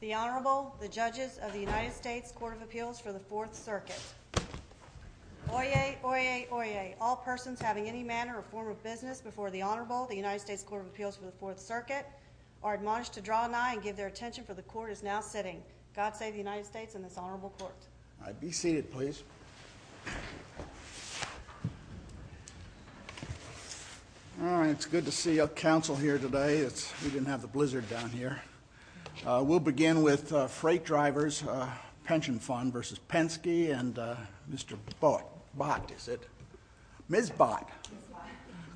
The Honorable, the Judges of the United States Court of Appeals for the Fourth Circuit. Oyez, oyez, oyez. All persons having any manner or form of business before the Honorable, the United States Court of Appeals for the Fourth Circuit are admonished to draw an eye and give their attention for the Court is now sitting. God save the United States and this Honorable Court. All right, be seated, please. All right, it's good to see a council here today. We didn't have the blizzard down here. We'll begin with Freight Drivers Pension Fund v. Mrs. Penske and Mr. Bott, is it? Ms. Bott.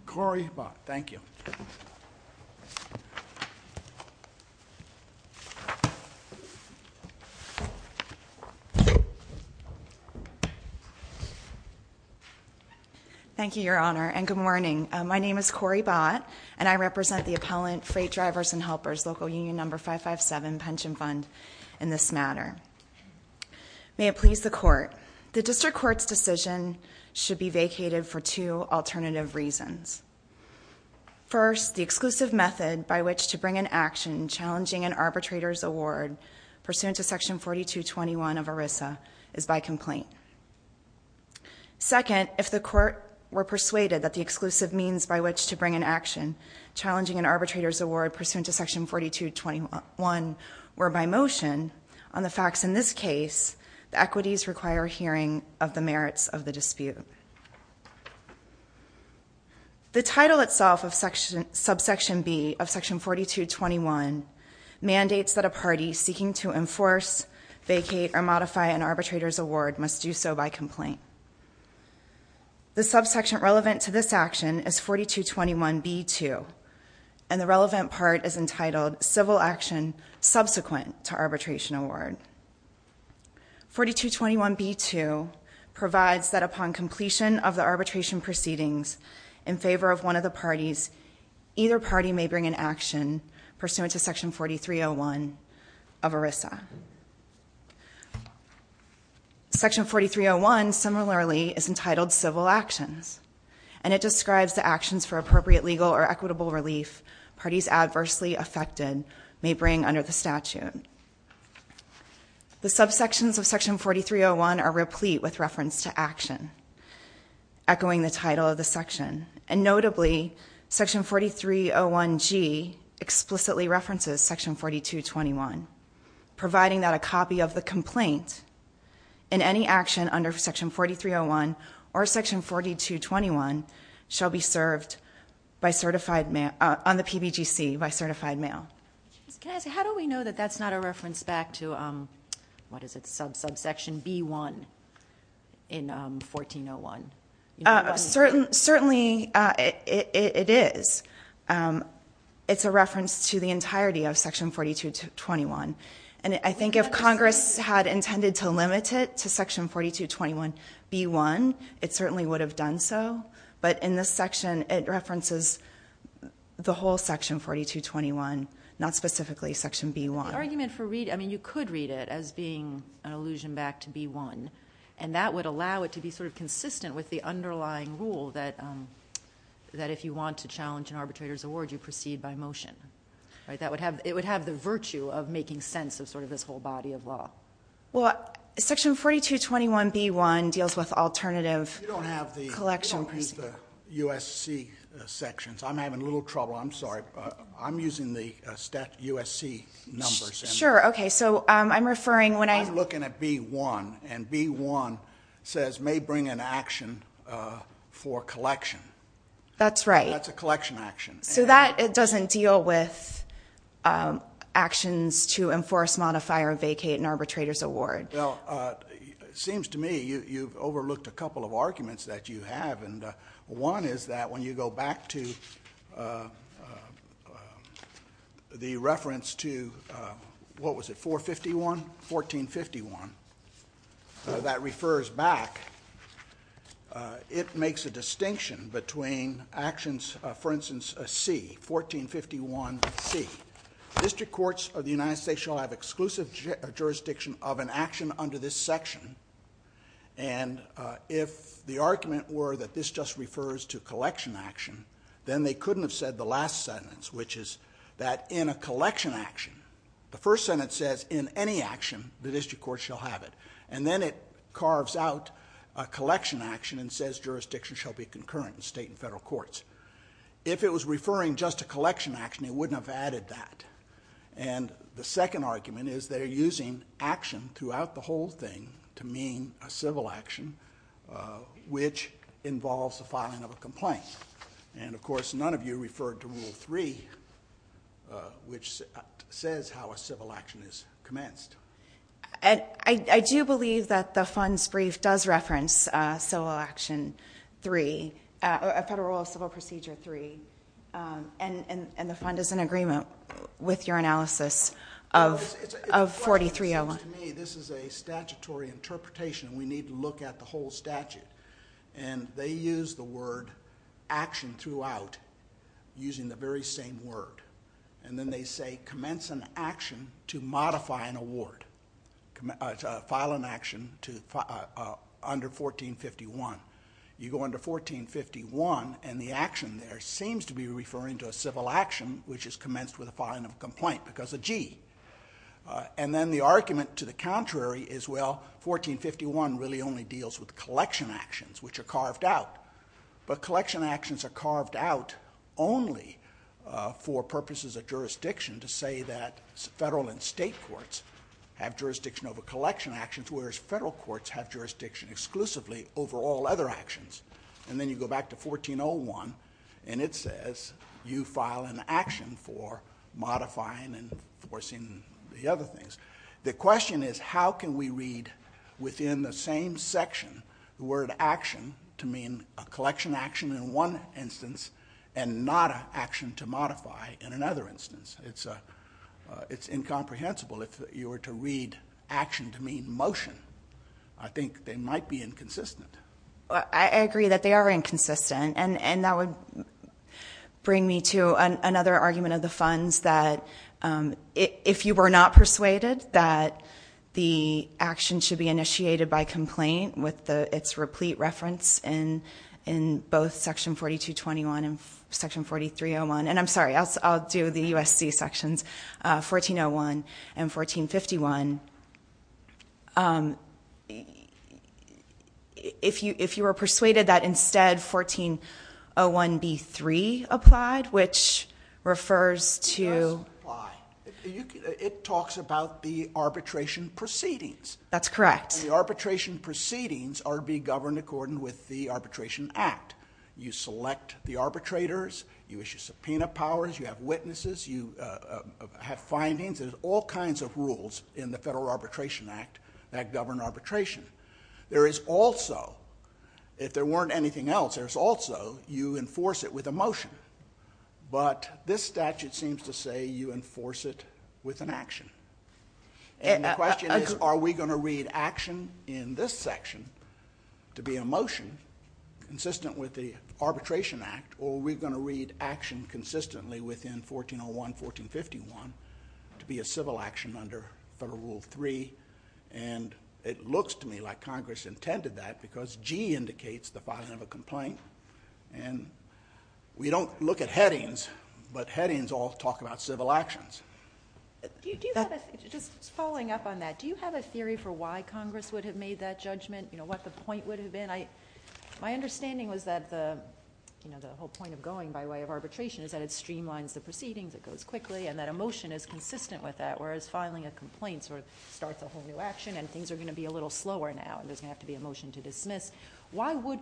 Cory Bott. Thank you. Thank you, Your Honor, and good morning. My name is Cory Bott and I represent the appellant Freight Drivers and Helpers Local Union No. 557 Pension Fund in this matter. May it please the Court, the District Court's decision should be vacated for two alternative reasons. First, the exclusive method by which to bring an action challenging an arbitrator's award pursuant to Section 4221 of ERISA is by complaint. Second, if the Court were persuaded that the arbitrator's award pursuant to Section 4221 were by motion, on the facts in this case, the equities require hearing of the merits of the dispute. The title itself of Subsection B of Section 4221 mandates that a party seeking to enforce, vacate, or modify an arbitrator's award must do so by complaint. The subsection relevant to this action is 4221B2, and the relevant part is entitled Civil Action Subsequent to Arbitration Award. 4221B2 provides that upon completion of the arbitration proceedings in favor of one of the parties, either party may bring an action pursuant to Section 4301 of ERISA. Section 4301, similarly, is entitled Civil Actions, and it describes the actions for appropriate legal or equitable relief parties adversely affected may bring under the statute. The subsections of Section 4301 are replete with reference to action, echoing the title of the section, and notably, Section 4301G explicitly references Section 4221, providing that a copy of the complaint in any action under Section 4301 or Section 4221 shall be served on the PBGC by certified mail. How do we know that's not a reference back to Subsection B1 in 1401? Certainly it is. It's a reference to the entirety of Section 4221, and I think if Congress had intended to limit it to Section 4221B1, it certainly would have done so, but in this section, it references the whole Section 4221, not specifically Section B1. The argument for read—I mean, you could read it as being an allusion back to B1, and that would allow it to be sort of consistent with the underlying rule that if you want to challenge an arbitrator's award, you proceed by motion. It would have the virtue of making sense of sort of this whole body of law. Well, Section 4221B1 deals with alternative collection— You don't have the USC sections. I'm having a little trouble. I'm sorry. I'm using the USC numbers. Sure. Okay. So I'm referring when I— I'm looking at B1, and B1 says, may bring an action for collection. That's right. That's a collection action. So that doesn't deal with actions to enforce, modify, or vacate an arbitrator's award. Well, it seems to me you've overlooked a couple of arguments that you have, and one is that when you go back to the reference to, what was it, 451? 1451? That refers back. It makes a distinction between actions, for instance, C, 1451C. District courts of the United States shall have exclusive jurisdiction of an action under this section, and if the argument were that this just refers to collection action, then they couldn't have said the last sentence, which is that in a collection action, the first sentence says, in any action, the district court shall have it, and then it carves out a collection action and says jurisdiction shall be concurrent in state and federal courts. If it was referring just to collection action, it wouldn't have added that, and the second argument is they're using action throughout the whole thing to mean a civil action, which involves the filing of a complaint, and, of course, none of you referred to Rule 3, which says how a civil action is commenced. I do believe that the fund's brief does reference Civil Action 3, Federal Civil Procedure 3, and the fund is in agreement with your analysis of 4301. To me, this is a statutory interpretation. We need to look at the whole statute, and they use the word action throughout using the very same word, and then they say commence an action to modify an award, file an action under 1451. You go under 1451, and the action there seems to be referring to a civil action, which is commenced with a filing of a complaint because of G, and then the argument to the contrary is, well, 1451 really only deals with collection actions, which are carved out, but collection actions are carved out only for purposes of jurisdiction to say that federal and state courts have jurisdiction over collection actions, whereas federal courts have jurisdiction exclusively over all other actions, and then you go back to 1401, and it says you file an action for modifying and enforcing the other things. The question is how can we read within the same section the one instance and not an action to modify in another instance? It's incomprehensible. If you were to read action to mean motion, I think they might be inconsistent. I agree that they are inconsistent, and that would bring me to another argument of the funds that if you were not persuaded that the action should be initiated by complaint with its replete reference in both section 4221 and section 4301, and I'm sorry, I'll do the USC sections, 1401 and 1451. If you were persuaded that instead 1401B3 applied, which refers to... It does apply. It talks about the arbitration proceedings. That's correct. The arbitration proceedings are to be governed according with the Arbitration Act. You select the arbitrators. You issue subpoena powers. You have witnesses. You have findings. There's all kinds of rules in the Federal Arbitration Act that govern arbitration. There is also, if there weren't anything else, there's also you enforce it with a motion, but this statute seems to say you enforce it with an action. The question is, are we going to read action in this section to be a motion consistent with the Arbitration Act, or are we going to read action consistently within 1401, 1451 to be a civil action under Federal Rule 3? It looks to me like Congress intended that because G indicates the filing of a complaint. We don't look at headings, but headings all talk about civil actions. Just following up on that, do you have a theory for why Congress would have made that judgment, what the point would have been? My understanding was that the whole point of going by way of arbitration is that it streamlines the proceedings, it goes quickly, and that a motion is consistent with that, whereas filing a complaint starts a whole new action and things are going to be a little slower now and there's going to have to be a motion to dismiss. Why would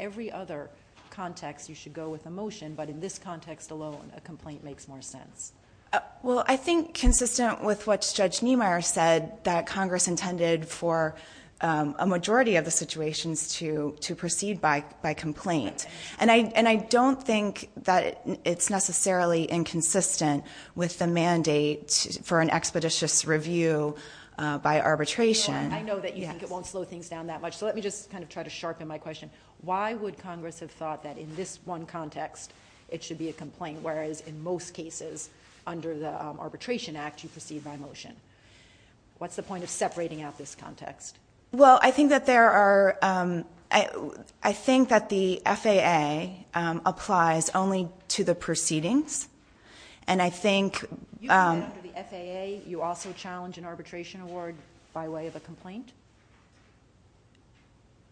every other context you should go with a motion, but in this context alone, a complaint makes more sense? I think consistent with what Judge Niemeyer said, that Congress intended for a majority of the situations to proceed by complaint. I don't think that it's necessarily inconsistent with the mandate for an expeditious review by arbitration. I know that you think it won't slow things down that much, so let me just kind of try to sharpen my question. Why would Congress have thought that in this one context, it should be a complaint, whereas in most cases under the Arbitration Act, you proceed by motion? What's the point of separating out this context? I think that the FAA applies only to the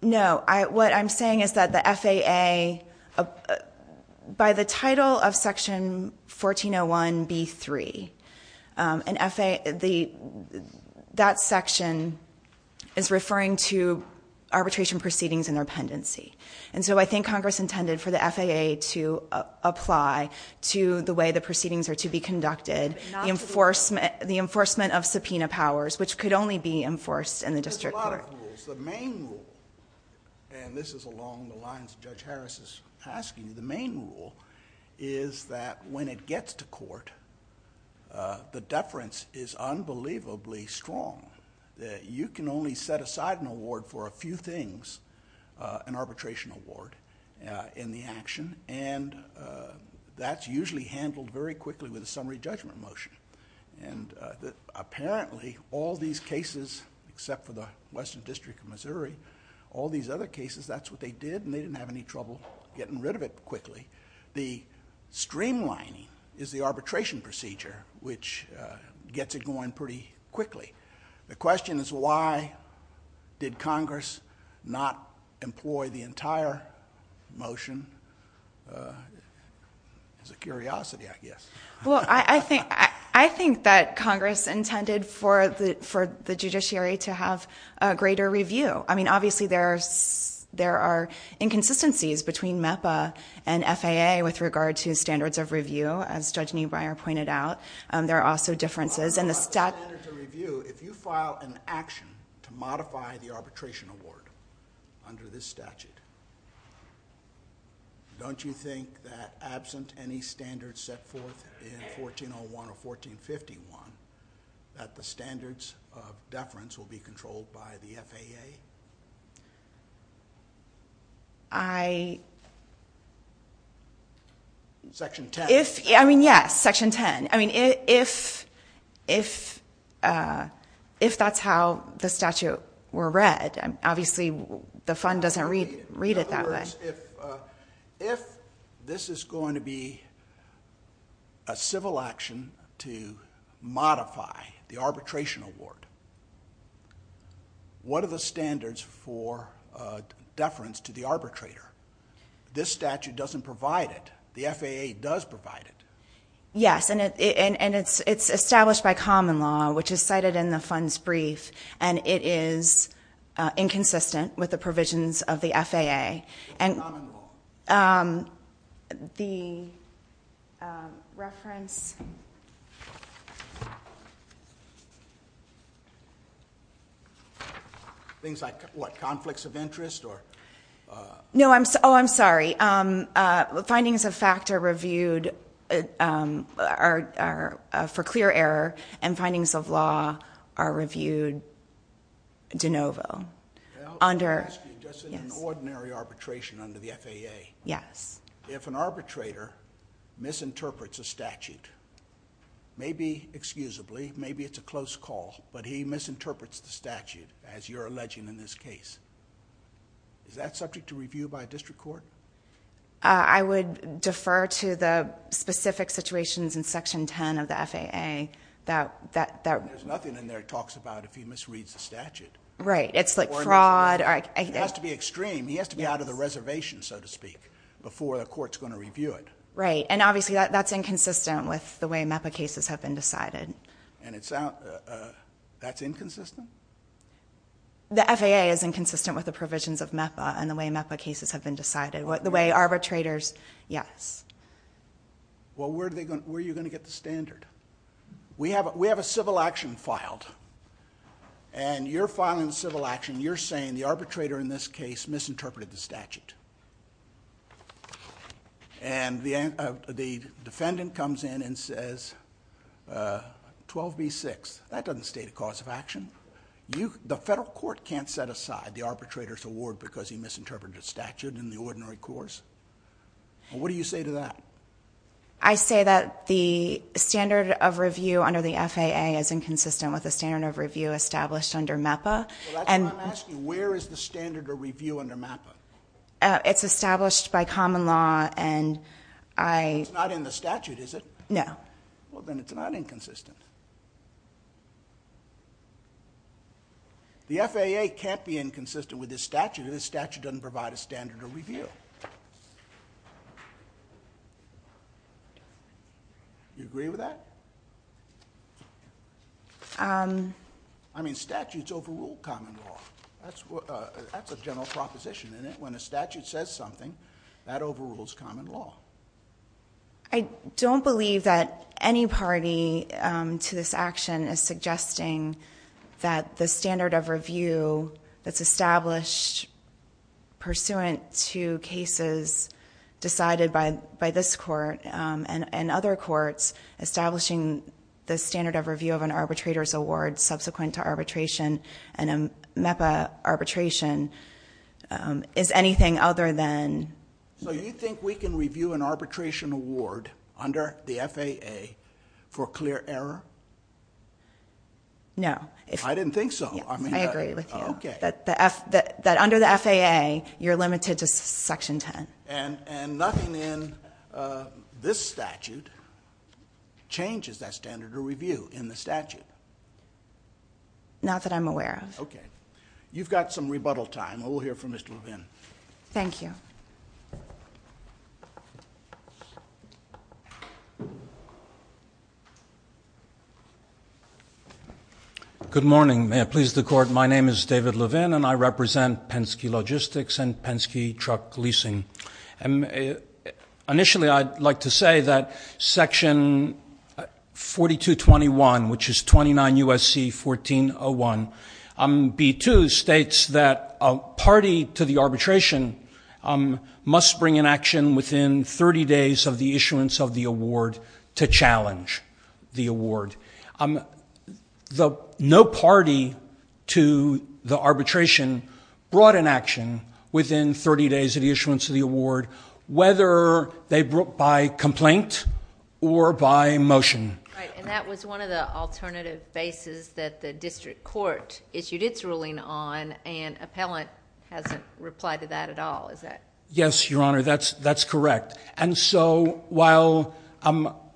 No, what I'm saying is that the FAA, by the title of Section 1401B3, that section is referring to arbitration proceedings and their pendency, and so I think Congress intended for the FAA to apply to the way the proceedings are to be conducted, the enforcement of subpoena powers, which could only be enforced in the district court. There's a lot of rules. The main rule, and this is along the lines that Judge Harris is asking, the main rule is that when it gets to court, the deference is unbelievably strong, that you can only set aside an award for a few things, an arbitration award, in the action, and that's usually handled very quickly with a summary judgment motion. Apparently, all these cases, except for the Western District of Missouri, all these other cases, that's what they did, and they didn't have any trouble getting rid of it quickly. The streamlining is the arbitration procedure, which gets it going pretty quickly. The question is why did Congress not employ the entire motion? It's a curiosity, I guess. Well, I think that Congress intended for the judiciary to have a greater review. I mean, obviously, there are inconsistencies between MEPA and FAA with regard to standards of review, as Judge Neubreier pointed out. There are also differences in the statute. If you file an action to modify the arbitration award under this statute, don't you think that absent any standards set forth in 1401 or 1451, that the standards of deference will be controlled by the FAA? Section 10. I mean, yes, Section 10. I mean, if that's how the statute were read, obviously, the fund doesn't read it that way. If this is going to be a civil action to modify the arbitration award, what are the standards for deference to the arbitrator? This statute doesn't provide it. The FAA does provide it. Yes, and it's established by common law, which is cited in the fund's brief, and it is inconsistent with the provisions of the FAA. Things like what, conflicts of interest? No, I'm sorry. Findings of fact are reviewed for clear error, and findings of law are reviewed de novo under... Just in an ordinary arbitration under the FAA. Yes. If an arbitrator misinterprets a statute, maybe, excusably, maybe it's a close call, but he misinterprets the statute, as you're alleging in this case, is that subject to review by a district court? I would defer to the specific situations in Section 10 of the FAA that... There's nothing in there that talks about if he misreads the statute. Right, it's like fraud or... It has to be extreme. He has to be out of the reservation, so to speak, before the court's going to review it. Right, and obviously that's inconsistent with the way MEPA cases have been decided. And that's inconsistent? The FAA is inconsistent with the provisions of MEPA and the way MEPA cases have been decided, the way arbitrators... yes. Well, where are you going to get the standard? We have a civil action filed. And you're filing a civil action. You're saying the arbitrator in this case misinterpreted the statute. And the defendant comes in and says, 12b-6. That doesn't state a cause of action. The federal court can't set aside the arbitrator's award because he misinterpreted a statute in the ordinary course. What do you say to that? I say that the standard of review under the FAA is inconsistent with the standard of review established under MEPA. That's what I'm asking. Where is the standard of review under MEPA? It's established by common law, and I... It's not in the statute, is it? No. Well, then it's not inconsistent. The FAA can't be inconsistent with this statute. This statute doesn't provide a standard of review. Do you agree with that? I mean, statutes overrule common law. That's a general proposition, isn't it? When a statute says something, that overrules common law. I don't believe that any party to this action is suggesting that the standard of review that's established pursuant to cases decided by this court and other courts, establishing the standard of review of an arbitrator's award subsequent to arbitration and a MEPA arbitration is anything other than... So you think we can review an arbitration award under the FAA for clear error? No. I didn't think so. I mean... I agree with you. Okay. That under the FAA, you're limited to Section 10. And nothing in this statute changes that standard of review in the statute? Not that I'm aware of. Okay. You've got some rebuttal time. We'll hear from Mr. Levin. Thank you. Good morning. May it please the Court, my name is David Levin, and I represent Penske Logistics and Penske Truck Leasing. Initially, I'd like to say that Section 4221, which is 29 U.S.C. 1401, B2 states that a party to the arbitration must bring an action within 30 days of the issuance of the award to challenge the award. No party to the arbitration brought an action within 30 days of the issuance of the award, whether they brought by complaint or by motion. Right. And that was one of the alternative bases that the district court issued its ruling on, and appellant hasn't replied to that at all, is that... Yes, Your Honor, that's correct. And so while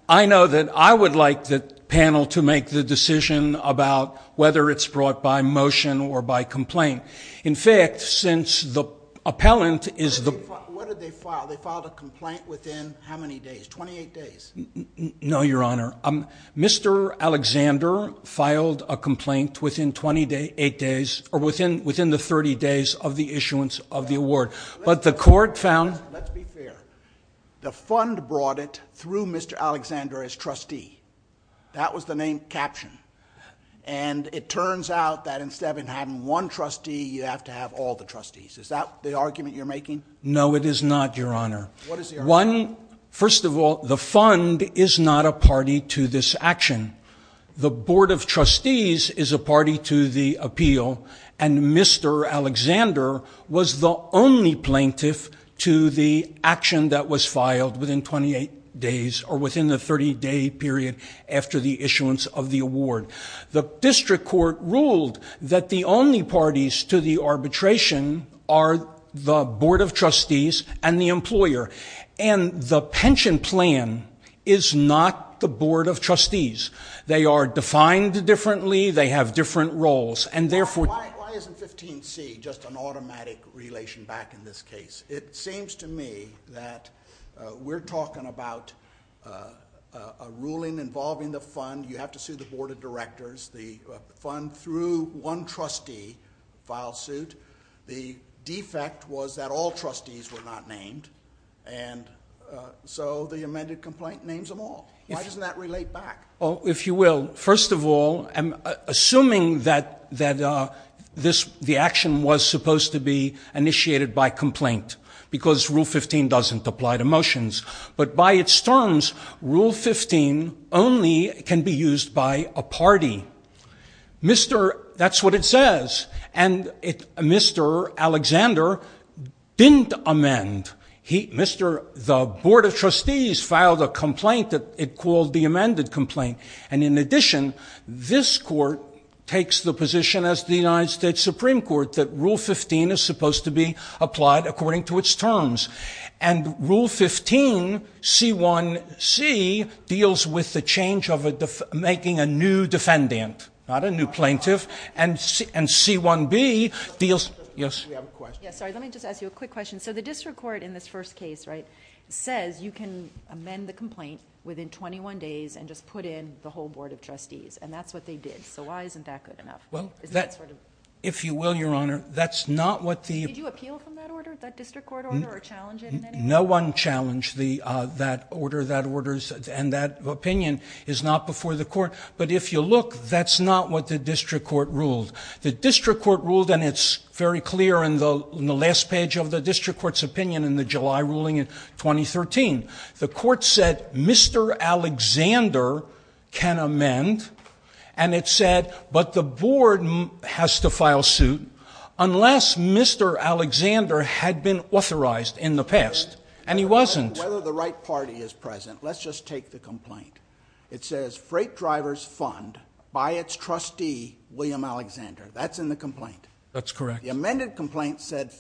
I know that I would like the panel to make the decision about whether it's brought by motion or by complaint. In fact, since the appellant is the... What did they file? They filed a complaint within how many days? Twenty-eight days? No, Your Honor. Mr. Alexander filed a complaint within the 30 days of the issuance of the award. But the court found... Let's be fair. The fund brought it through Mr. Alexander as trustee. That was the name captioned. And it turns out that instead of having one trustee, you have to have all the trustees. Is that the argument you're making? No, it is not, Your Honor. What is the argument? One, first of all, the fund is not a party to this action. The Board of Trustees is a party to the appeal, and Mr. Alexander was the only plaintiff to the action that was filed within 28 days or within the 30-day period after the issuance of the award. The district court ruled that the only parties to the arbitration are the And the pension plan is not the Board of Trustees. They are defined differently. They have different roles. And therefore... Why isn't 15C just an automatic relation back in this case? It seems to me that we're talking about a ruling involving the fund. You have to sue the Board of Directors, the fund, through one trustee, file suit. The defect was that all trustees were not named, and so the amended complaint names them all. Why doesn't that relate back? If you will, first of all, I'm assuming that the action was supposed to be initiated by complaint because Rule 15 doesn't apply to motions. But by its terms, Rule 15 only can be used by a party. Mr.... That's what it says. And Mr. Alexander didn't amend. Mr.... The Board of Trustees filed a complaint that it called the amended complaint. And in addition, this court takes the position as the United States Supreme Court that Rule 15 is supposed to be applied according to its terms. And Rule 15, C1C, deals with the change of making a new defendant, not a new plaintiff. And C1B deals... We have a question. Let me just ask you a quick question. So the district court in this first case says you can amend the complaint within 21 days and just put in the whole Board of Trustees. And that's what they did. So why isn't that good enough? If you will, Your Honor, that's not what the... No one challenged that order. That order and that opinion is not before the court. But if you look, that's not what the district court ruled. The district court ruled, and it's very clear in the last page of the district court's opinion in the July ruling in 2013. The court said Mr. Alexander can amend. And it said, but the Board has to file suit unless Mr. Alexander had been authorized in the past, and he wasn't. Whether the right party is present. Let's just take the complaint. It says freight driver's fund by its trustee, William Alexander. That's in the complaint. That's correct. The amended complaint said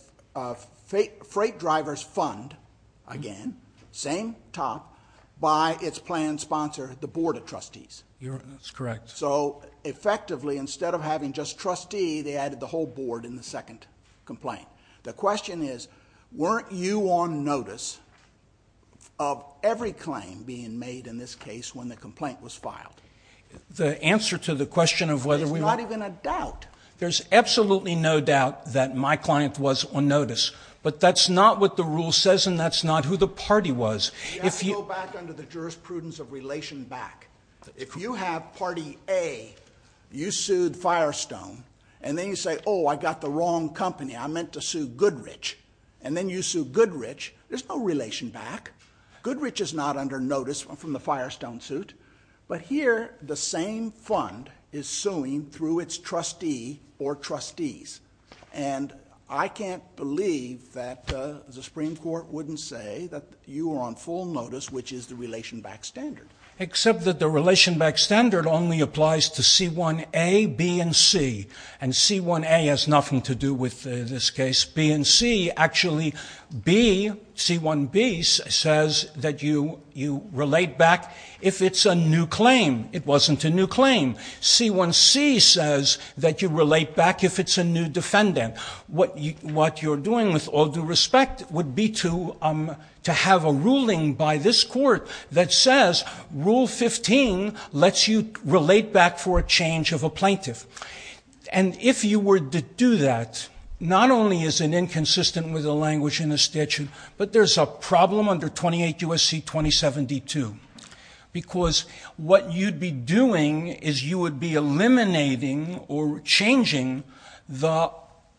freight driver's fund, again, same top, by its planned sponsor, the Board of Trustees. That's correct. So effectively, instead of having just trustee, they added the whole Board in the second complaint. The question is, weren't you on notice of every claim being made in this case when the complaint was filed? The answer to the question of whether we were... There's not even a doubt. There's absolutely no doubt that my client was on notice. But that's not what the rule says, and that's not who the party was. You have to go back under the jurisprudence of relation back. If you have party A, you sued Firestone, and then you say, oh, I got the wrong company. I meant to sue Goodrich. And then you sue Goodrich. There's no relation back. Goodrich is not under notice from the Firestone suit. But here, the same fund is suing through its trustee or trustees. And I can't believe that the Supreme Court wouldn't say that you were on full notice, which is the relation back standard. Except that the relation back standard only applies to C1A, B, and C. And C1A has nothing to do with this case. B and C actually... C1B says that you relate back if it's a new claim. It wasn't a new claim. C1C says that you relate back if it's a new defendant. What you're doing, with all due respect, would be to have a ruling by this court that says Rule 15 lets you relate back for a change of a plaintiff. And if you were to do that, not only is it inconsistent with the language in the statute, but there's a problem under 28 U.S.C. 2072. Because what you'd be doing is you would be eliminating or changing the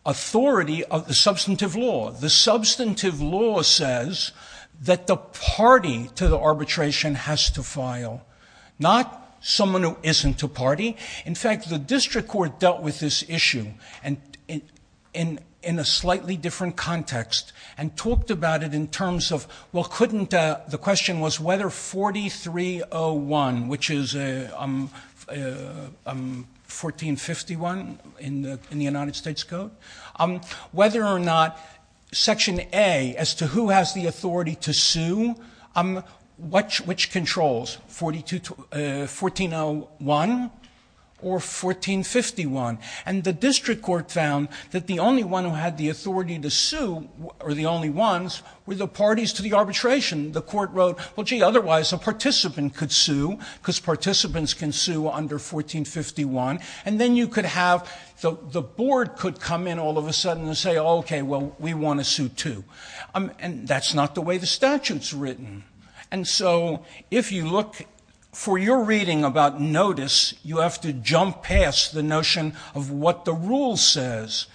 authority of the substantive law. The substantive law says that the party to the arbitration has to file. Not someone who isn't a party. In fact, the district court dealt with this issue in a slightly different context and talked about it in terms of, well, couldn't... The question was whether 4301, which is 1451 in the United States Code, whether or not Section A, as to who has the authority to sue, which controls? 1401 or 1451? And the district court found that the only one who had the authority to sue, or the only ones, were the parties to the arbitration. The court wrote, well, gee, otherwise a participant could sue because participants can sue under 1451. And then you could have... The board could come in all of a sudden and say, okay, well, we want to sue too. And that's not the way the statute's written. And so if you look for your reading about notice, you have to jump past the notion of what the rule says.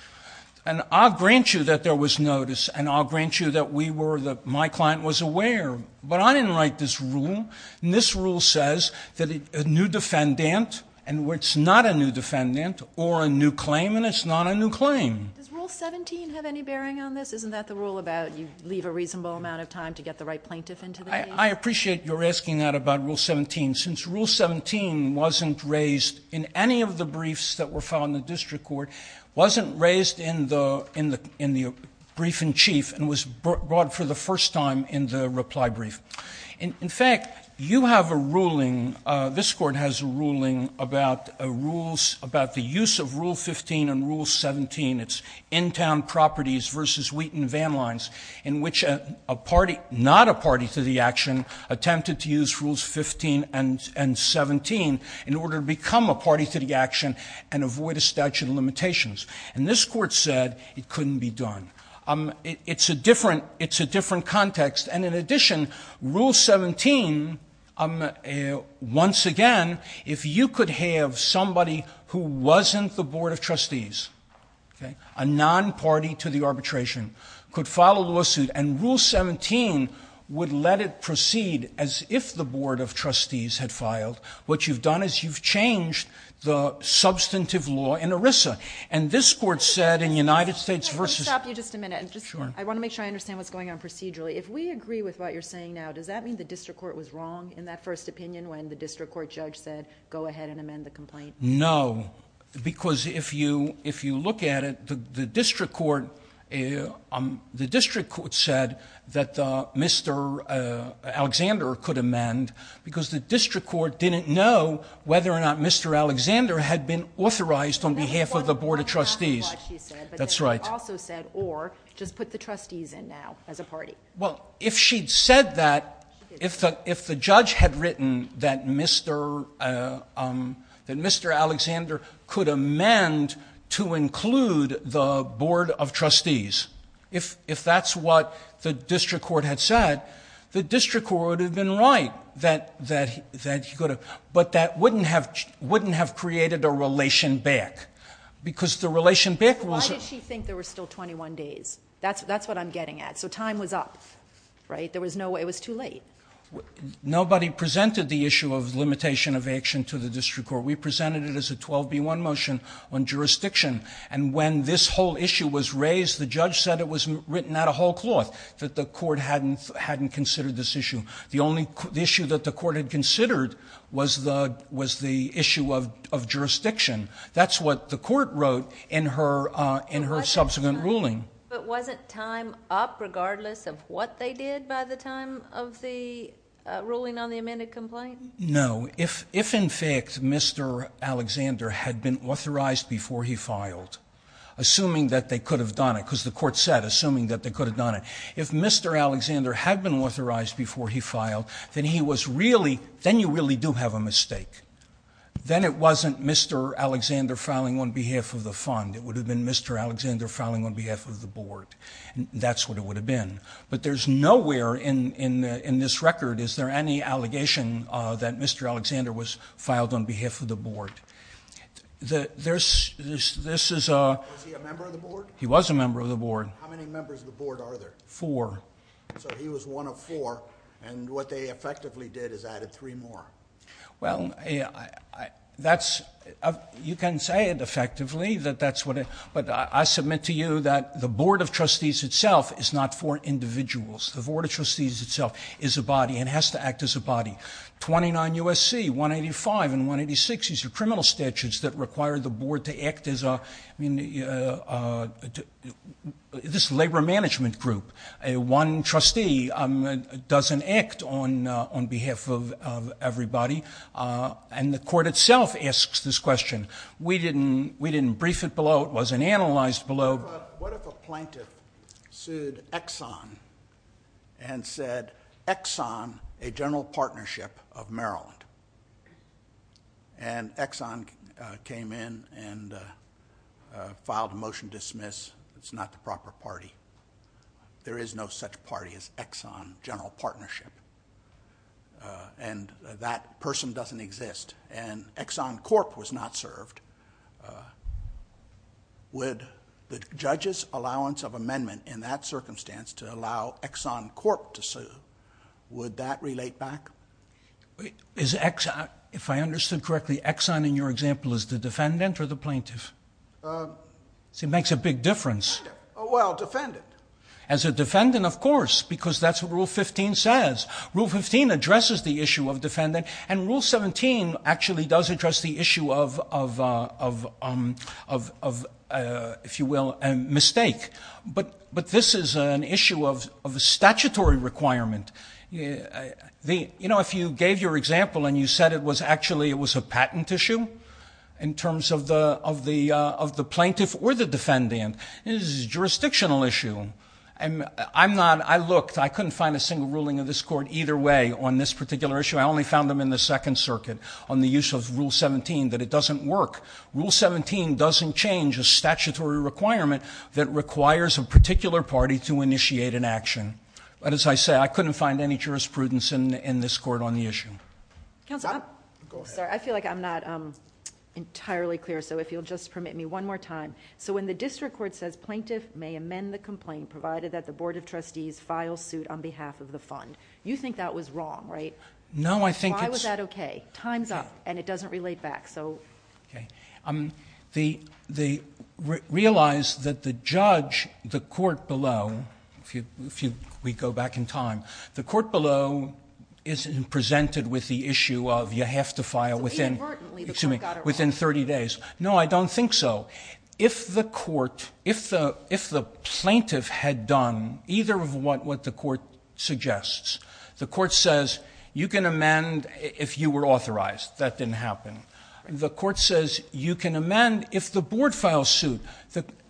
And I'll grant you that there was notice, and I'll grant you that my client was aware. But I didn't write this rule. And this rule says that a new defendant, and it's not a new defendant, or a new claim, and it's not a new claim. Does Rule 17 have any bearing on this? Isn't that the rule about you leave a reasonable amount of time to get the right plaintiff into the case? I appreciate your asking that about Rule 17. Since Rule 17 wasn't raised in any of the briefs that were filed in the district court, wasn't raised in the brief in chief, and was brought for the first time in the reply brief. In fact, you have a ruling, this court has a ruling, about the use of Rule 15 and Rule 17, it's in-town properties versus Wheaton van lines, in which a party, not a party to the action, attempted to use Rules 15 and 17 in order to become a party to the action and avoid a statute of limitations. And this court said it couldn't be done. It's a different context. And in addition, Rule 17, once again, if you could have somebody who wasn't the board of trustees, a non-party to the arbitration, could file a lawsuit and Rule 17 would let it proceed as if the board of trustees had filed, what you've done is you've changed the substantive law in ERISA. And this court said in United States versus. I want to make sure I understand what's going on procedurally. If we agree with what you're saying now, does that mean the district court was wrong in that first opinion, when the district court judge said, go ahead and amend the complaint? No, because if you, if you look at it, the district court, the district court said that Mr. Alexander could amend because the district court didn't know whether or not Mr. Alexander had been authorized on behalf of the board of trustees. That's right. Also said, or just put the trustees in now as a party. Well, if she'd said that, if the, if the judge had written that Mr. that Mr. Alexander could amend to include the board of trustees. If, if that's what the district court had said, the district court would have been right. That, that, that he could have, but that wouldn't have, wouldn't have created a relation back because the relation back. Why did she think there were still 21 days? That's, that's what I'm getting at. So time was up, right? There was no way it was too late. Nobody presented the issue of limitation of action to the district court. We presented it as a 12 B one motion on jurisdiction. And when this whole issue was raised, the judge said it was written out a whole cloth that the court hadn't, hadn't considered this issue. The only issue that the court had considered was the, was the issue of, of jurisdiction. That's what the court wrote in her, in her subsequent ruling. It wasn't time up regardless of what they did by the time of the ruling on the amended complaint. No. If, if in fact, Mr. Alexander had been authorized before he filed, assuming that they could have done it because the court said, assuming that they could have done it, if Mr. Alexander had been authorized before he filed, then he was really, then you really do have a mistake. Then it wasn't Mr. Alexander filing on behalf of the fund. It would have been Mr. Alexander filing on behalf of the board. And that's what it would have been, but there's nowhere in, in, in this record. Is there any allegation that Mr. Alexander was filed on behalf of the board? There's this, this is a member of the board. He was a member of the board. How many members of the board are there for, so he was one of four and what they effectively did is added three more. Well, I, I, that's, you can say it effectively that that's what it, but I submit to you that the board of trustees itself is not for individuals. The board of trustees itself is a body and has to act as a body 29 USC, one 85 and one 86. These are criminal statutes that require the board to act as a, I mean, this labor management group, a one trustee doesn't act on, on behalf of everybody. And the court itself asks this question. We didn't, we didn't brief it below. It wasn't analyzed below. What if a plaintiff sued Exxon and said Exxon, a general partnership of Maryland and Exxon came in and filed a motion dismiss. It's not the proper party. There is no such party as Exxon general partnership. And that person doesn't exist. And Exxon Corp was not served. Would the judge's allowance of amendment in that circumstance to allow Exxon Corp to sue, would that relate back? Is Exxon, if I understood correctly, Exxon in your example is the defendant or the plaintiff. So it makes a big difference. Oh, well defended as a defendant, of course, because that's what rule 15 says. Rule 15 addresses the issue of defendant and rule 17 actually does address the issue of, of, of, of, of if you will, a mistake, but, but this is an issue of, of a statutory requirement. The, you know, if you gave your example and you said it was actually, it was a patent issue in terms of the, of the, of the plaintiff or the defendant is jurisdictional issue. And I'm not, I looked, I couldn't find a single ruling of this court either way on this particular issue. I only found them in the second circuit on the use of rule 17, that it doesn't work. Rule 17 doesn't change a statutory requirement that requires a particular party to initiate an action. But as I say, I couldn't find any jurisprudence in this court on the issue. Council. I feel like I'm not entirely clear. So if you'll just permit me one more time. So when the district court says plaintiff may amend the complaint, provided that the board of trustees file suit on behalf of the fund, you think that was wrong, right? No, I think that's okay. Time's up and it doesn't relate back. So. Okay. Um, the, the re realize that the judge, the court below, if you, if you, we go back in time, the court below isn't presented with the issue of you have to file within 30 days. No, I don't think so. If the court, if the, if the plaintiff had done either of what, what the court suggests, the court says you can amend if you were authorized, that didn't happen. The court says you can amend if the board file suit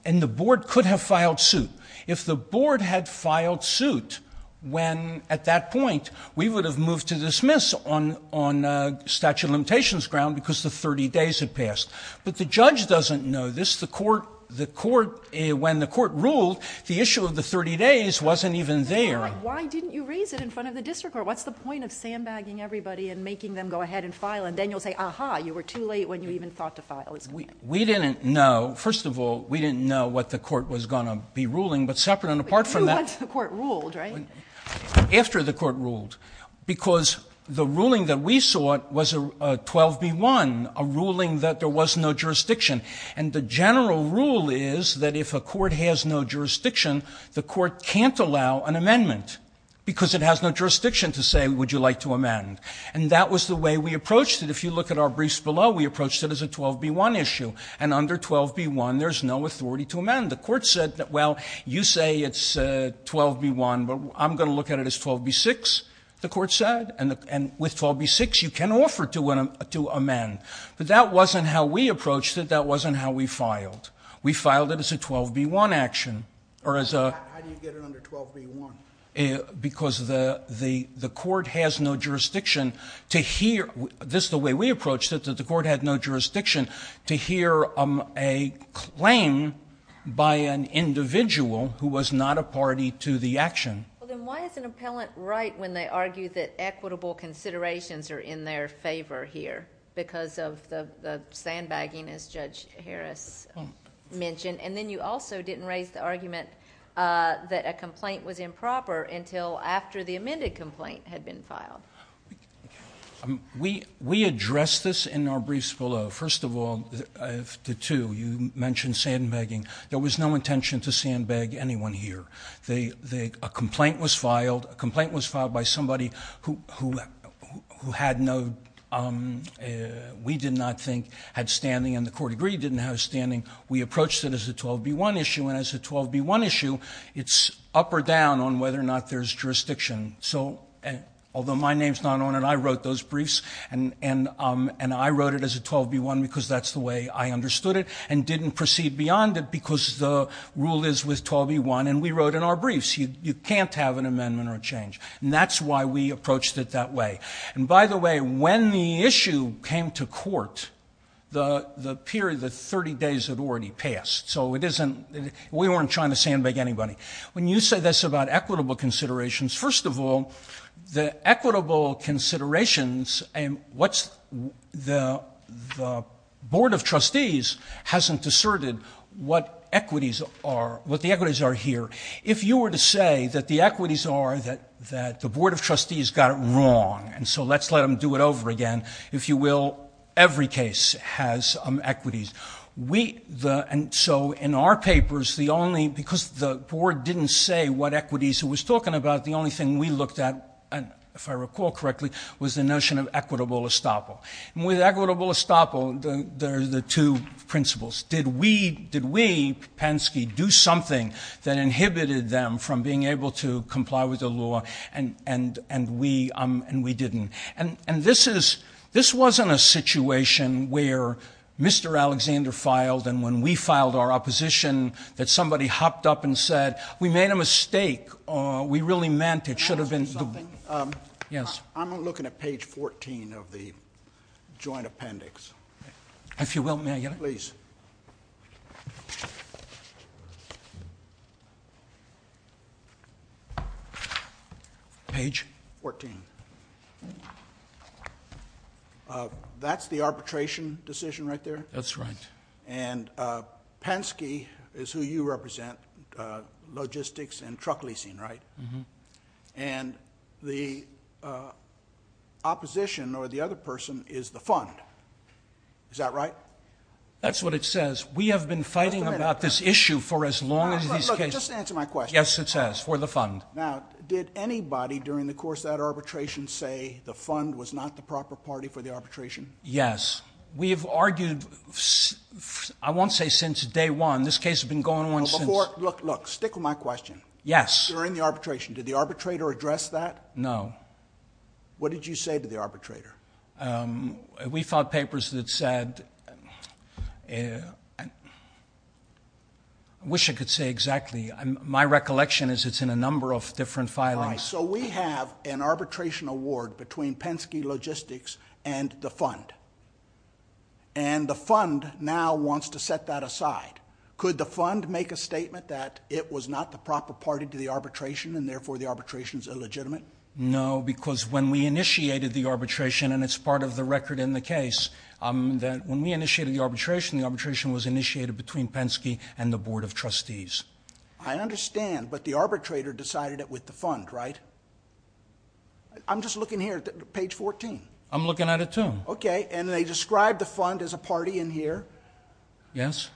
and the board could have filed suit. If the board had filed suit, when at that point we would have moved to dismiss on, on a statute of limitations ground because the 30 days had passed, but the judge doesn't know this. The court, the court, when the court ruled the issue of the 30 days, wasn't even there. Why didn't you raise it in front of the district? Or what's the point of sandbagging everybody and making them go ahead and file. And then you'll say, aha, you were too late when you even thought to file it. We didn't know, first of all, we didn't know what the court was going to be ruling, but separate. And apart from that, the court ruled right after the court ruled, because the ruling that we saw was a 12 B one, a ruling that there was no jurisdiction. And the general rule is that if a court has no jurisdiction, the court can't allow an amendment because it has no jurisdiction to say, would you like to amend? And that was the way we approached it. If you look at our briefs below, we approached it as a 12 B one issue. And under 12 B one, there's no authority to amend. The court said that, well, you say it's a 12 B one, but I'm going to look at it as 12 B six. The court said, and with 12 B six, you can offer to amend, but that wasn't how we approached it. That wasn't how we filed. We filed it as a 12 B one action or as a. How do you get it under 12 B one? Because the court has no jurisdiction to hear this, the way we approached it, that the court had no jurisdiction to hear a claim by an individual who was not a party to the action. Well, then why is an appellant right? When they argue that equitable considerations are in their favor here because of the sandbagging as judge Harris mentioned. And then you also didn't raise the argument that a complaint was improper until after the amended complaint had been filed. We, we address this in our briefs below. First of all, if the two you mentioned sandbagging, there was no intention to sandbag anyone here. They, they, a complaint was filed. A complaint was filed by somebody who, who, who had no we did not think had standing and the court agreed didn't have standing. We approached it as a 12 B one issue. And as a 12 B one issue, it's up or down on whether or not there's jurisdiction. So, and although my name's not on it, I wrote those briefs and, and, and I wrote it as a 12 B one, because that's the way I understood it and didn't proceed beyond it because the rule is with 12 B one. And we wrote in our briefs, you can't have an amendment or change. And that's why we approached it that way. And by the way, when the issue came to court, the, the period, the 30 days had already passed. So it isn't, we weren't trying to sandbag anybody. When you say this about equitable considerations, first of all, the equitable considerations and what's the, the board of trustees hasn't asserted what equities are, what the equities are here. If you were to say that the equities are that, that the board of trustees got it wrong. And so let's let them do it over again. If you will, every case has equities. We, the, and so in our papers, the only, because the board didn't say what equities who was talking about, the only thing we looked at, and if I recall correctly, was the notion of equitable estoppel and with equitable estoppel, the two principles, did we, did we Penske do something that inhibited them from being able to comply with the law? And, and, and we, and we didn't. And, and this is, this wasn't a situation where Mr. Alexander filed. And when we filed our opposition that somebody hopped up and said, we made a mistake or we really meant it should have been. Yes. I'm looking at page 14 of the joint appendix. If you will, may I get it please? Page 14. That's the arbitration decision right there. That's right. And Penske is who you represent logistics and truck leasing, right? And the opposition or the other person is the fund. Is that right? That's what it says. We have been fighting about this issue for as long as these cases. Yes. It says for the fund. Now did anybody during the course of that arbitration say the fund was not the proper party for the arbitration? Yes. We've argued, I won't say since day one, this case has been going on. Look, look, stick with my question. Yes. During the arbitration, did the arbitrator address that? No. What did you say to the arbitrator? We filed papers that said, I wish I could say exactly. My recollection is it's in a number of different filings. So we have an arbitration award between Penske Logistics and the fund. And the fund now wants to set that aside. Could the fund make a statement that it was not the proper party to the arbitration and therefore the arbitration is illegitimate? No, because when we initiated the arbitration, and it's part of the record in the case that when we initiated the arbitration, the arbitration was initiated between Penske and the board of trustees. I understand, but the arbitrator decided it with the fund, right? I'm just looking here at page 14. I'm looking at it too. Okay. And they described the fund as a party in here. Yes.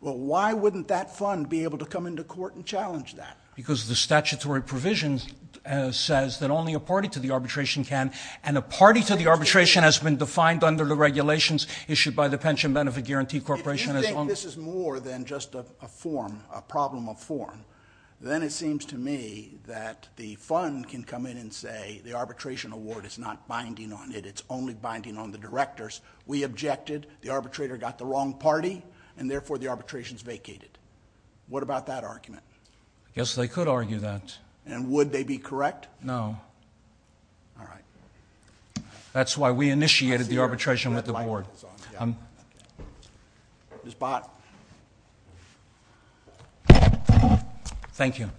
Well, why wouldn't that fund be able to come into court and challenge that? Because the statutory provisions says that only a party to the arbitration can, and a party to the arbitration has been defined under the regulations issued by the pension benefit guarantee corporation. This is more than just a form, a problem of form. Then it seems to me that the fund can come in and say, the arbitration award is not binding on it. It's only binding on the directors. We objected the arbitrator got the wrong party and therefore the arbitrations vacated. What about that argument? Yes, they could argue that. And would they be correct? No. All right. That's why we initiated the arbitration with the board. Thank you. Okay.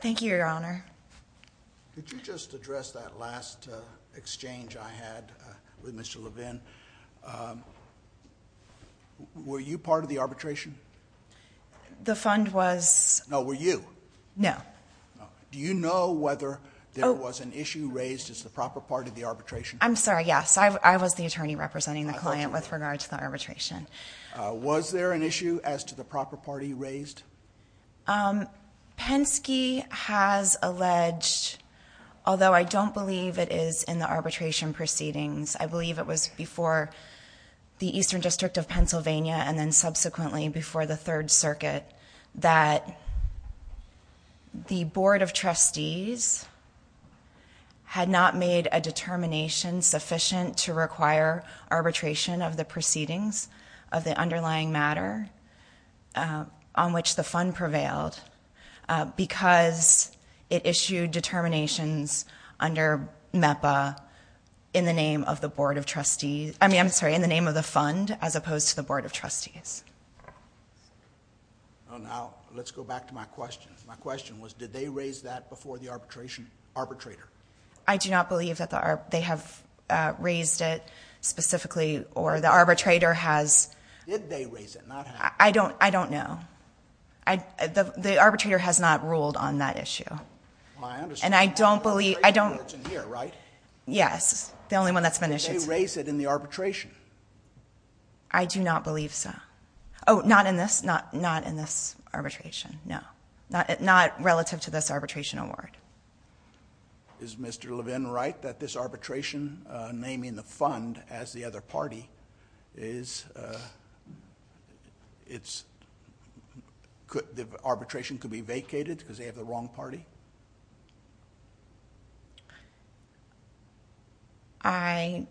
Thank you, Your Honor. Did you just address that last, uh, exchange I had with Mr. Levin? Um, were you part of the arbitration? The fund was... No, were you? No. Do you know whether there was an issue raised as the proper part of the arbitration? I'm sorry. Yes. I was the attorney representing the client with regard to the arbitration. Uh, was there an issue as to the proper party raised? Um, Penske has alleged, although I don't believe it is in the arbitration proceedings, I believe it was before the Eastern district of Pennsylvania. And then subsequently before the third circuit, that the board of trustees had not made a determination sufficient to require arbitration of the proceedings of the underlying matter, uh, on which the fund prevailed, uh, because it issued determinations under MEPA in the name of the board of trustees. I mean, I'm sorry, in the name of the fund as opposed to the board of trustees. Oh, now let's go back to my question. My question was, did they raise that before the arbitration arbitrator? I do not believe that they have, uh, raised it specifically or the arbitrator has... Did they raise it, not have... I don't, I don't know. I, the, the arbitrator has not ruled on that issue. Well, I understand. And I don't believe, I don't... Well, it's in here, right? Yes. The only one that's been issued... I do not believe so. Oh, not in this, not, not in this arbitration. No. Not, not relative to this arbitration award. Is Mr. Levin right that this arbitration, uh, naming the fund as the other party is, uh, it's... Could, the arbitration could be vacated because they have the wrong party? I... I...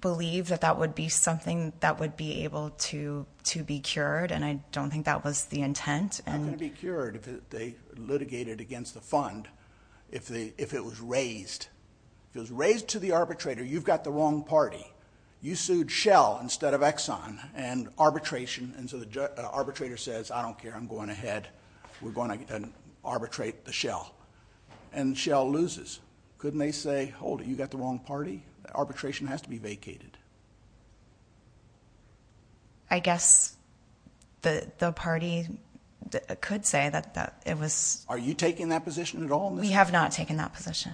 believe that that would be something that would be able to, to be cured and I don't think that was the intent and... How could it be cured if they litigated against the fund, if the, if it was raised? If it was raised to the arbitrator, you've got the wrong party. You sued Shell instead of Exxon. And arbitration, and so the ju... arbitrator says, I don't care, I'm going ahead. We're going to, uh, arbitrate the Shell. And Shell loses. Couldn't they say, hold it, you've got the wrong party? Arbitration has to be vacated. I guess... the, the party could say that, that it was... Are you taking that position at all? We have not taken that position.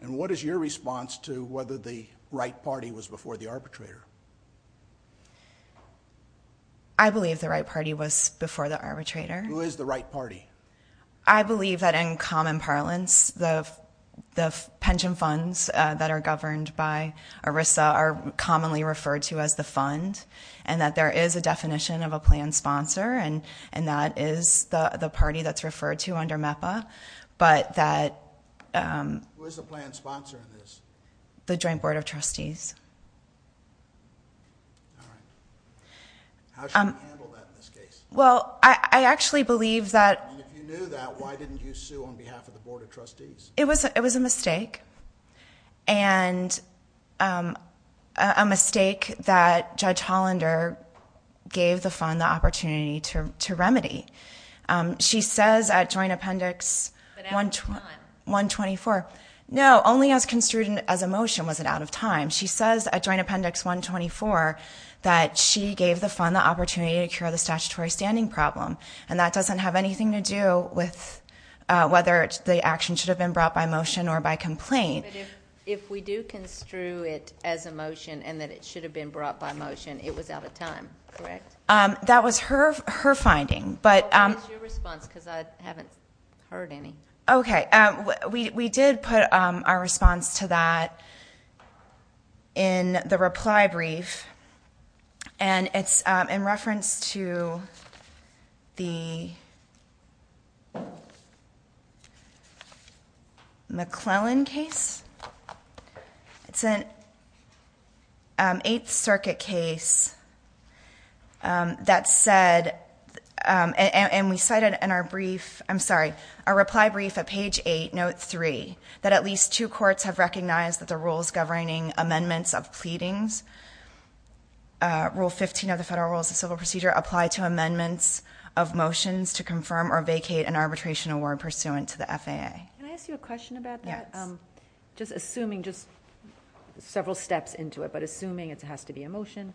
And what is your response to whether the right party was before the arbitrator? I believe the right party was before the arbitrator. Who is the right party? I believe that in common parlance, the... the pension funds, uh, that are governed by ERISA are commonly referred to as the fund. And that there is a definition of a plan sponsor and, and that is the, the party that's referred to under MEPA. But that, um... Who is the plan sponsor of this? The Joint Board of Trustees. All right. How should we handle that in this case? Well, I, I actually believe that... And if you knew that, why didn't you sue on behalf of the Board of Trustees? It was, it was a mistake. And, um, a mistake that Judge Hollander gave the fund the opportunity to, to remedy. Um, she says at Joint Appendix... But at what time? 124. No, only as construed as a motion was it out of time. She says at Joint Appendix 124 that she gave the fund the opportunity to cure the statutory standing problem. And that doesn't have anything to do with, uh, whether the action should have been brought by motion or by complaint. But if, if we do construe it as a motion and that it should have been brought by motion, it was out of time, correct? Um, that was her, her finding. But, um... Well, what is your response? Because I haven't heard any. Okay. Um, we, we did put, um, our response to that in the reply brief. And it's, um, in reference to the... McClellan case. It's an, um, Eighth Circuit case, um, that said, um, and, and we cited in our brief, I'm sorry, our reply brief at page eight, note three, that at least two courts have recognized that the rules governing amendments of pleadings, uh, Rule 15 of the Federal Rules of Civil Procedure apply to amendments of motions to confirm or vacate an arbitration award pursuant to the FAA. Can I ask you a question about that? Yes. Um, just assuming, just several steps into it, but assuming it has to be a motion,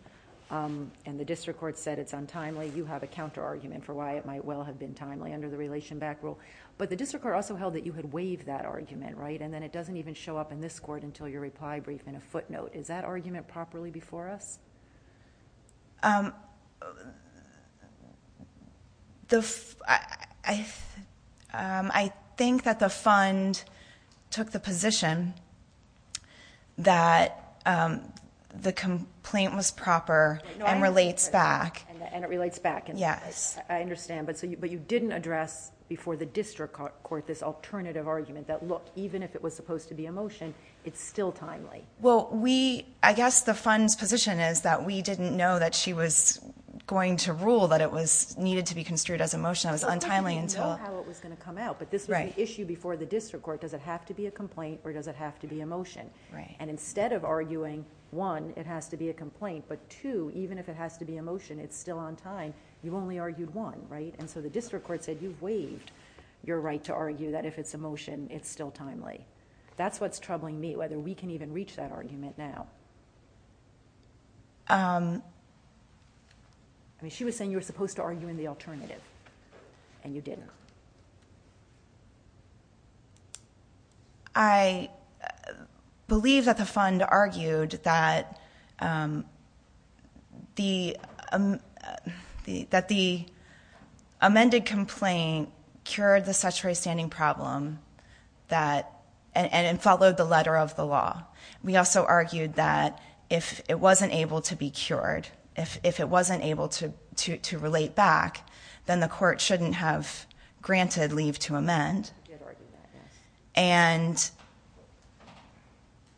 um, and the district court said it's untimely, you have a counterargument for why it might well have been timely under the relation back rule. But the district court also held that you had waived that argument, right? And then it doesn't even show up in this court until your reply brief in a footnote. Is that argument properly before us? Um, the, I, um, I think that the fund took the position that, um, the complaint was proper and relates back. And it relates back. Yes. I understand. But so you, but you didn't address before the district court this alternative argument that look, even if it was supposed to be a motion, it's still timely. Well, we, I guess the fund's position is that we didn't know that she was going to rule that it was needed to be construed as a motion. It was untimely until... Because we didn't know how it was going to come out. Right. But this was an issue before the district court. Does it have to be a complaint or does it have to be a motion? Right. And instead of arguing, one, it has to be a complaint, but two, even if it has to be a motion, it's still on time. You've only argued one, right? And so the district court said, you've waived your right to argue that if it's a motion, it's still timely. That's what's troubling me, whether we can even reach that argument now. Um, I mean, she was saying you were supposed to argue in the alternative, and you didn't. I believe that the fund argued that, um, that the amended complaint cured the statutory standing problem and followed the letter of the law. We also argued that if it wasn't able to be cured, if it wasn't able to relate back, then the court shouldn't have granted leave to amend. You did argue that, yes. And...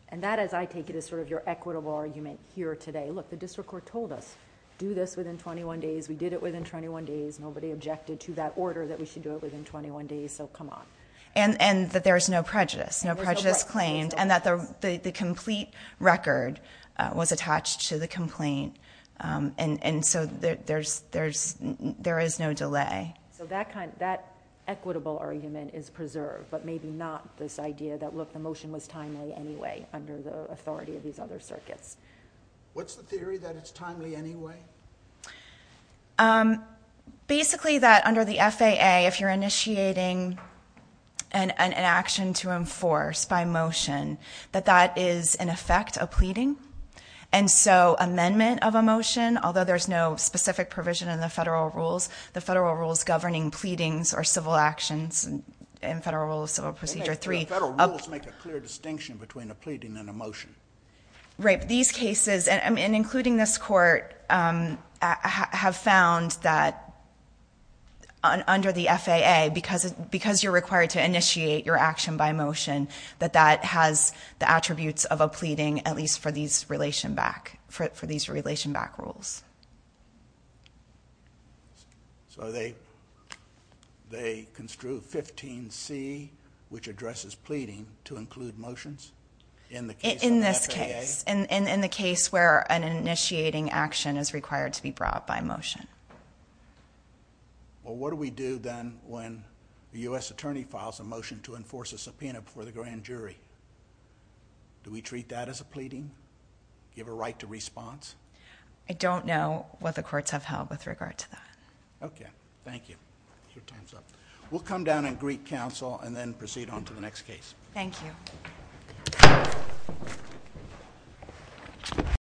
And that, as I take it, is sort of your equitable argument here today. Look, the district court told us, do this within 21 days. We did it within 21 days. Nobody objected to that order that we should do it within 21 days, so come on. And that there's no prejudice. No prejudice claimed. And that the complete record was attached to the complaint. Um, and so there is no delay. So that equitable argument is preserved, but maybe not this idea that, look, the motion was timely anyway under the authority of these other circuits. What's the theory that it's timely anyway? Um, basically that under the FAA, if you're initiating an action to enforce by motion, that that is, in effect, a pleading. And so amendment of a motion, although there's no specific provision in the federal rules, the federal rules governing pleadings or civil actions in Federal Rule of Civil Procedure 3... Federal rules make a clear distinction between a pleading and a motion. Right, but these cases, and including this court, um, have found that under the FAA, because you're required to initiate your action by motion, that that has the attributes of a pleading, at least for these relation-back... for these relation-back rules. So they... they construe 15C, which addresses pleading, to include motions? In the case of the FAA? In this case. In the case where an initiating action is required to be brought by motion. Well, what do we do then when the U.S. attorney files a motion to enforce a subpoena before the grand jury? Do we treat that as a pleading? Give a right to response? I don't know what the courts have held with regard to that. Okay. Thank you. Your time's up. We'll come down and greet counsel and then proceed on to the next case. Thank you.